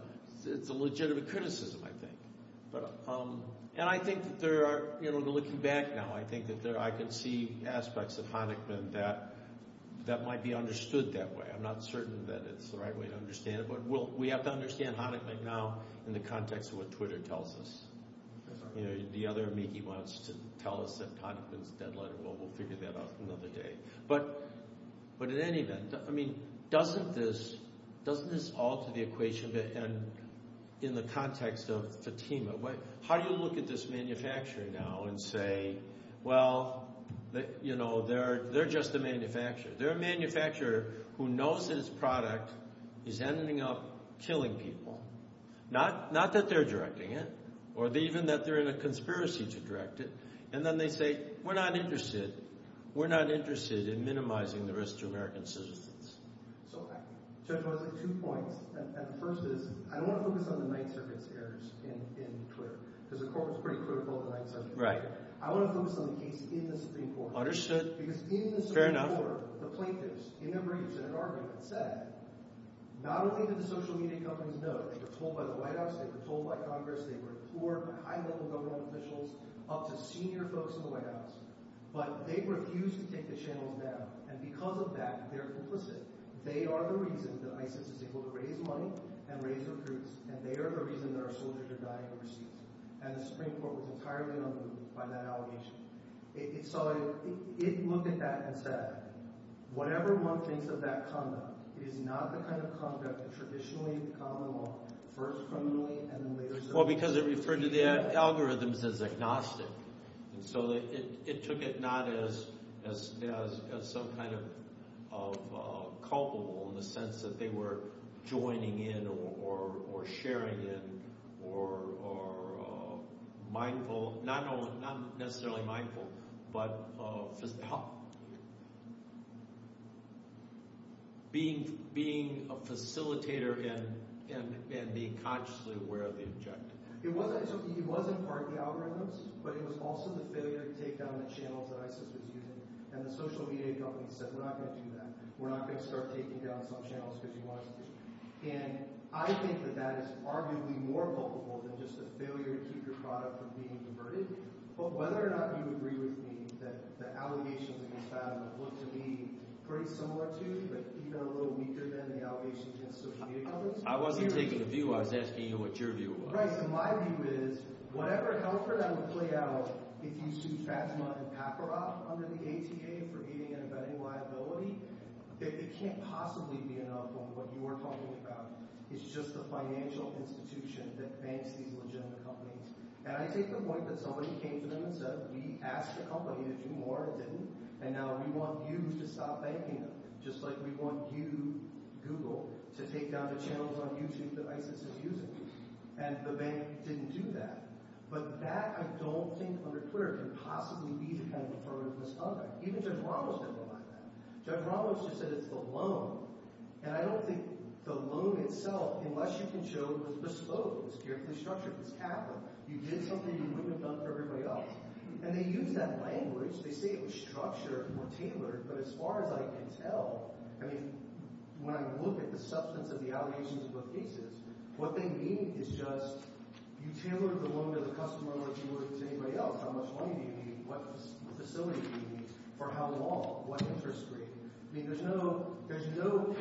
it's a legitimate criticism, I think. And I think that there are… you know, looking back now, I think that I can see aspects of Honickman that might be understood that way. I'm not certain that it's the right way to understand it, but we have to understand Honickman now in the context of what Twitter tells us. You know, the other amici wants to tell us that Honickman's a dead letter. Well, we'll figure that out another day. But in any event, I mean, doesn't this alter the equation in the context of Fatima? How do you look at this manufacturer now and say, well, you know, they're just a manufacturer? They're a manufacturer who knows that its product is ending up killing people. Not that they're directing it or even that they're in a conspiracy to direct it. And then they say, we're not interested. We're not interested in minimizing the risk to American citizens. So I just want to say two points. And the first is I don't want to focus on the Ninth Circuit's errors in Twitter because the court was pretty critical of the Ninth Circuit. I want to focus on the case in the Supreme Court. Understood. Fair enough. Because in the Supreme Court, the plaintiffs in their briefs in an argument said not only did the social media companies know it. They were told by the White House. They were told by Congress. They were poor, high-level government officials up to senior folks in the White House. But they refused to take the channels down. And because of that, they're implicit. They are the reason that ISIS is able to raise money and raise recruits, and they are the reason that our soldiers are dying overseas. And the Supreme Court was entirely unmoved by that allegation. So it looked at that and said, whatever one thinks of that conduct, it is not the kind of conduct that traditionally common law first criminally and then later… Well, because it referred to the algorithms as agnostic. And so it took it not as some kind of culpable in the sense that they were joining in or sharing in or mindful – not necessarily mindful, but being a facilitator and being consciously aware of the objective. It wasn't part of the algorithms, but it was also the failure to take down the channels that ISIS was using. And the social media companies said we're not going to do that. We're not going to start taking down some channels because you want us to. And I think that that is arguably more culpable than just the failure to keep your product from being converted. But whether or not you agree with me that the allegations that you found looked to be pretty similar to but even a little weaker than the allegations against social media companies… I wasn't taking a view. I was asking you what your view was. Right. So my view is whatever comfort I would play out if you sued Pashma and Paparov under the ATA for getting in a vetting liability, it can't possibly be enough on what you are talking about. It's just the financial institution that banks these legitimate companies. And I take the point that somebody came to them and said we asked the company to do more. It didn't. And now we want you to stop banking them just like we want you, Google, to take down the channels on YouTube that ISIS is using. And the bank didn't do that. But that I don't think under clear could possibly be the kind of deferred misconduct. Even Judge Ramos didn't go by that. Judge Ramos just said it's the loan. And I don't think the loan itself, unless you can show it was bespoke, it was carefully structured, it was capital, you did something you wouldn't have done for everybody else. And they used that language. They say it was structured or tailored. But as far as I can tell, I mean, when I look at the substance of the allegations of both cases, what they mean is just you tailored the loan to the customer like you would to anybody else. How much money do you need? What facility do you need? For how long? What interest rate? I mean, there's no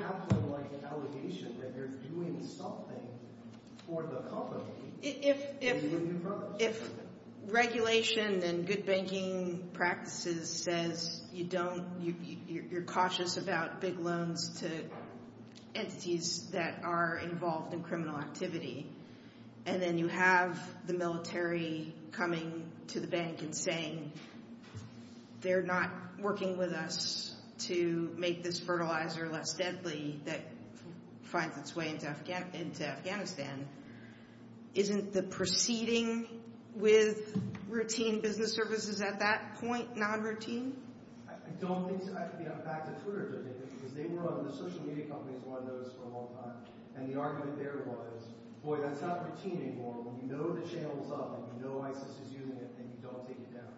capital-like allegation that you're doing something for the company. If regulation and good banking practices says you don't – you're cautious about big loans to entities that are involved in criminal activity, and then you have the military coming to the bank and saying they're not working with us to make this fertilizer less deadly that finds its way into Afghanistan, isn't the proceeding with routine business services at that point non-routine? I don't think – back to Twitter a little bit, because they were on – the social media companies were on those for a long time. And the argument there was, boy, that's not routine anymore. When you know the channel's up and you know ISIS is using it, then you don't take it down.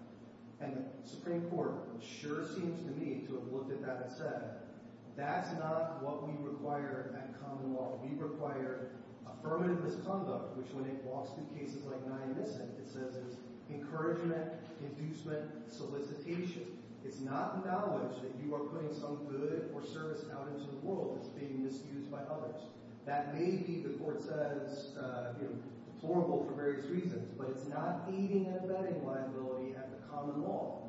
And the Supreme Court sure seems to me to have looked at that and said, that's not what we require at common law. We require affirmative misconduct, which when it walks through cases like Nye & Nissen, it says it's encouragement, inducement, solicitation. It's not knowledge that you are putting some good or service out into the world that's being misused by others. That may be, the court says, deplorable for various reasons, but it's not feeding and vetting liability at the common law.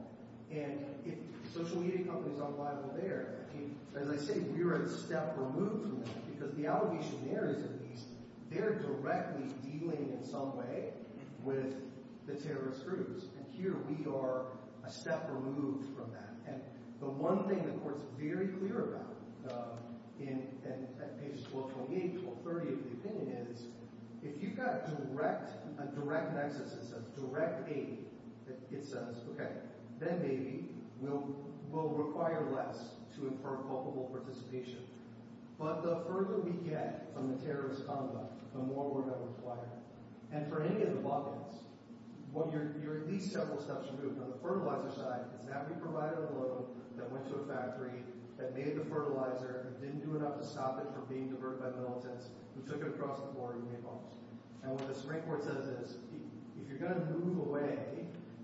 And if social media companies aren't liable there, I mean, as I say, we are a step removed from that because the allegationaries at least, they're directly dealing in some way with the terrorist groups. And here we are a step removed from that. And the one thing the court's very clear about in – at pages 1228 and 1230 of the opinion is if you've got direct – a direct nexus that says direct aid, it says, OK, then maybe we'll require less to infer culpable participation. But the further we get from the terrorist conduct, the more we're going to require. And for any of the buckets, you're at least several steps removed. On the fertilizer side, it's that we provided a load that went to a factory that made the fertilizer and didn't do enough to stop it from being diverted by militants who took it across the border and made bombs. And what the Supreme Court says is if you're going to move away,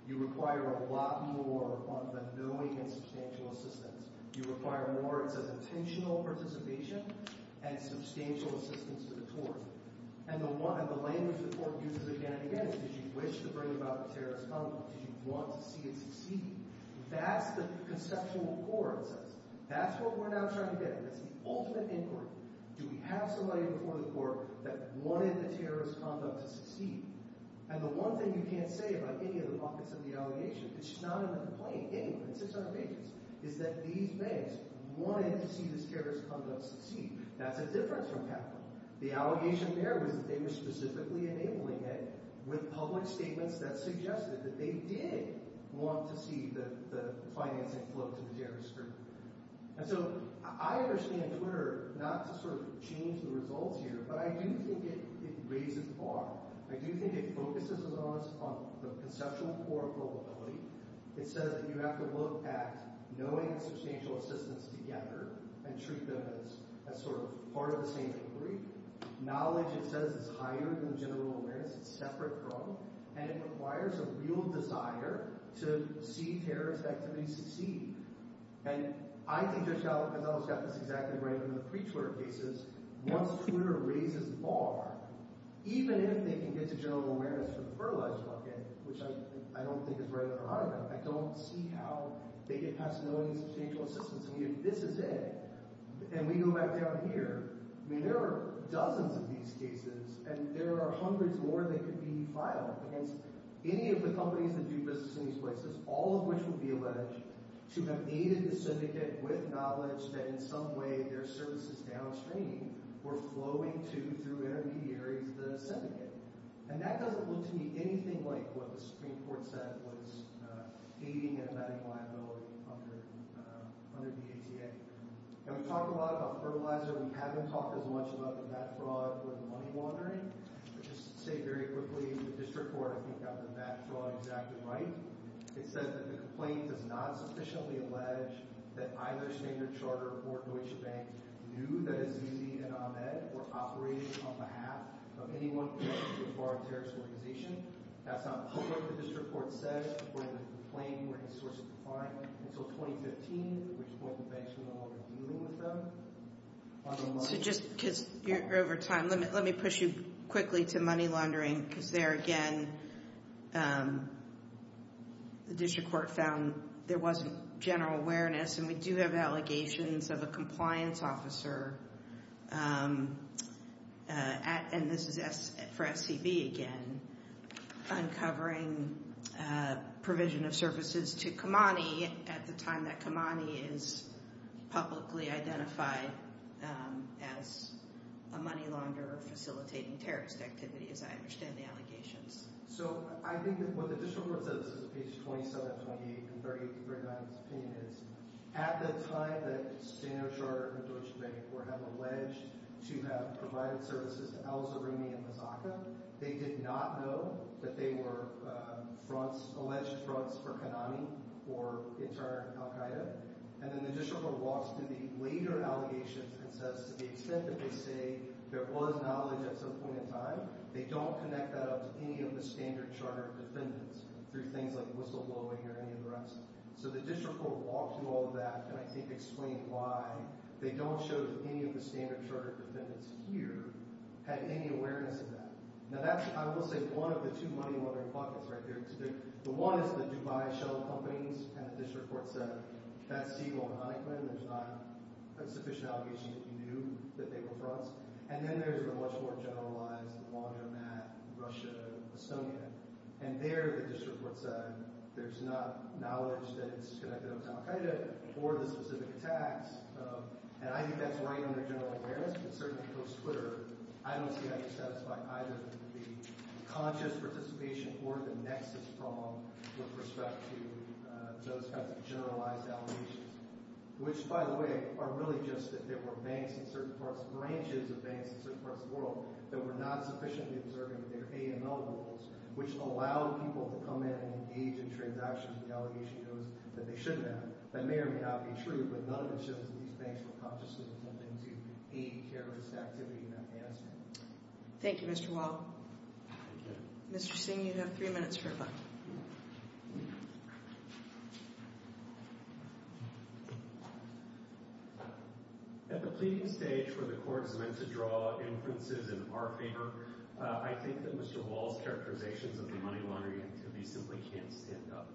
you require a lot more on the knowing and substantial assistance. You require more, it says, intentional participation and substantial assistance to the tort. And the one – and the language the court uses again and again is did you wish to bring about terrorist conduct? Did you want to see it succeed? That's the conceptual core, it says. That's what we're now trying to get at. That's the ultimate inquiry. Do we have somebody before the court that wanted the terrorist conduct to succeed? And the one thing you can't say about any of the buckets of the allegation, which is not in the complaint, any of it, it's just not in the case, is that these banks wanted to see this terrorist conduct succeed. That's a difference from capital. The allegation there was that they were specifically enabling it with public statements that suggested that they did want to see the financing flow to the terrorist group. And so I understand Twitter not to sort of change the results here, but I do think it raises the bar. I do think it focuses us on the conceptual core of probability. It says that you have to look at knowing and substantial assistance together and treat them as sort of part of the same inquiry. Knowledge, it says, is higher than general awareness. It's separate from. And it requires a real desire to see terrorist activities succeed. And I think Judge Gonzales got this exactly right in the pre-Twitter cases. Once Twitter raises the bar, even if they can get to general awareness for the fertilizer bucket, which I don't think is where they're at. I don't see how they get past knowing and substantial assistance. I mean, if this is it and we go back down here, I mean, there are dozens of these cases, and there are hundreds more that could be filed against any of the companies that do business in these places, all of which would be alleged to have aided the syndicate with knowledge that in some way their services downstream were flowing to, through intermediaries, the syndicate. And that doesn't look to me anything like what the Supreme Court said was aiding and abetting liability under the ETA. And we talk a lot about fertilizer. We haven't talked as much about the mat fraud with money laundering. I'll just say very quickly, the district court, I think, got the mat fraud exactly right. It says that the complaint does not sufficiently allege that either Standard Charter or Deutsche Bank knew that Azizi and Ahmed were operating on behalf of anyone connected to a foreign terrorist organization. That's not what the district court says. We're going to complain. We're going to source a complaint until 2015, at which point the bank's going to no longer be dealing with them. So just because you're over time, let me push you quickly to money laundering, because there again the district court found there wasn't general awareness, and we do have allegations of a compliance officer, and this is for SCB again, uncovering provision of services to Khamenei at the time that Khamenei is publicly identified as a money launderer facilitating terrorist activity, as I understand the allegations. So I think that what the district court said, this is page 27, 28, and 38, to bring out its opinion, is at the time that Standard Charter and Deutsche Bank have alleged to have provided services to al-Zaruni and Mazzocca, they did not know that they were alleged fronts for Khamenei or in turn al-Qaeda. And then the district court walks through the later allegations and says to the extent that they say there was knowledge at some point in time, they don't connect that up to any of the Standard Charter defendants through things like whistleblowing or any of the rest. So the district court walked through all of that and I think explained why they don't show that any of the Standard Charter defendants here had any awareness of that. Now that's, I will say, one of the two money laundering pockets right there. The one is the Dubai Shell companies, and the district court said that's the only one, there's not a sufficient allegation that you knew that they were fronts. And then there's the much more generalized laundromat, Russia, Estonia, and there the district court said there's not knowledge that it's connected up to al-Qaeda or the specific attacks. And I think that's right under general awareness, but certainly post-Twitter, I don't see how you satisfy either the conscious participation or the nexus from with respect to those kinds of generalized allegations. Which, by the way, are really just that there were banks in certain parts, branches of banks in certain parts of the world that were not sufficiently observing their AML rules, which allowed people to come in and engage in transactions that the allegation goes that they shouldn't have. That may or may not be true, but none of it shows that these banks were consciously attempting to aid terrorist activity in Afghanistan. Thank you, Mr. Wall. Mr. Singh, you have three minutes for rebuttal. At the pleading stage where the court is meant to draw inferences in our favor, I think that Mr. Wall's characterizations of the money laundering activity simply can't stand up.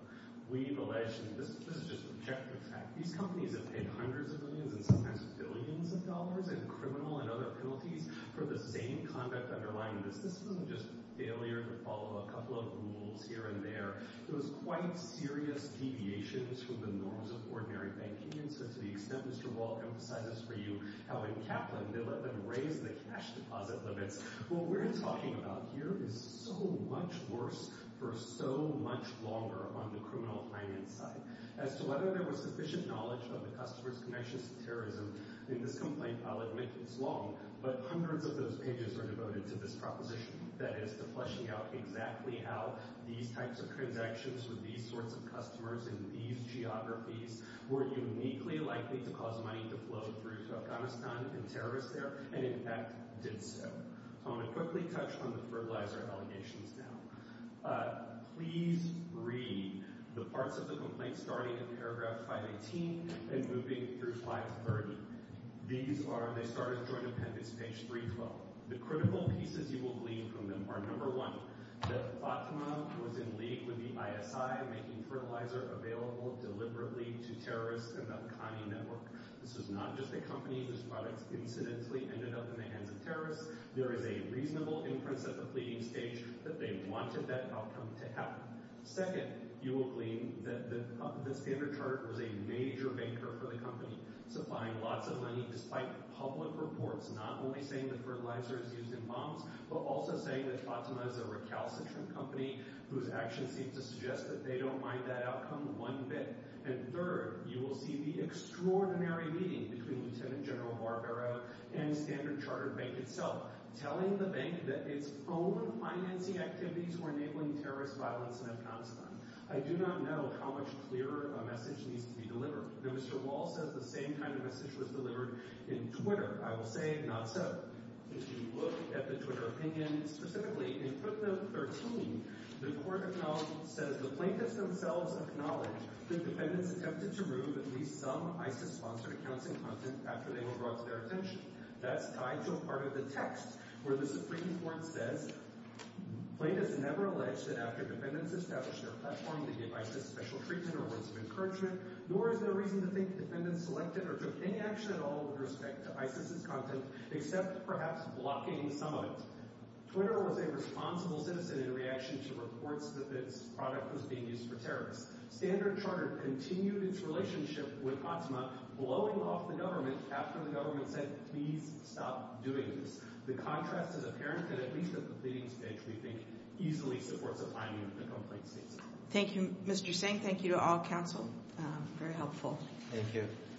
We've alleged, and this is just projected fact, these companies have paid hundreds of millions and sometimes billions of dollars in criminal and other penalties for the same conduct underlying this. This wasn't just failure to follow a couple of rules here and there. It was quite serious deviations from the norms of ordinary banking. And so to the extent Mr. Wall emphasized this for you, how in Kaplan they let them raise the cash deposit limits. What we're talking about here is so much worse for so much longer on the criminal finance side. As to whether there was sufficient knowledge of the customers' connections to terrorism in this complaint, I'll admit it's long, but hundreds of those pages are devoted to this proposition. That is, to fleshing out exactly how these types of transactions with these sorts of customers in these geographies were uniquely likely to cause money to flow through to Afghanistan in terrorist air, and in fact did so. I want to quickly touch on the fertilizer allegations now. Please read the parts of the complaint starting in paragraph 518 and moving through 530. These are—they start at Joint Appendix page 312. The critical pieces you will glean from them are, number one, that Fatima was in league with the ISI making fertilizer available deliberately to terrorists in the Bukhani network. This is not just a company whose products incidentally ended up in the hands of terrorists. There is a reasonable inference at the pleading stage that they wanted that outcome to happen. Second, you will glean that the standard charter was a major banker for the company, supplying lots of money despite public reports not only saying that fertilizer is used in bombs, but also saying that Fatima is a recalcitrant company whose actions seem to suggest that they don't mind that outcome one bit. And third, you will see the extraordinary meeting between Lieutenant General Barbero and Standard Chartered Bank itself telling the bank that its own financing activities were enabling terrorist violence in Afghanistan. I do not know how much clearer a message needs to be delivered. Now, Mr. Wall says the same kind of message was delivered in Twitter. I will say not so. If you look at the Twitter opinion, specifically in footnote 13, the court says, the plaintiffs themselves acknowledge that defendants attempted to remove at least some ISIS-sponsored accounts and content after they were brought to their attention. That's tied to a part of the text where the Supreme Court says, plaintiffs never alleged that after defendants established their platform to give ISIS special treatment or words of encouragement, nor is there reason to think defendants selected or took any action at all with respect to ISIS's content except perhaps blocking some of it. Twitter was a responsible citizen in reaction to reports that this product was being used for terrorists. Standard Chartered continued its relationship with Ottema, blowing off the government after the government said, please stop doing this. The contrast is apparent, and at least the completing speech, we think, easily supports a timing of the complaint's cease. Thank you, Mr. Singh. Thank you to all counsel. Very helpful. Thank you.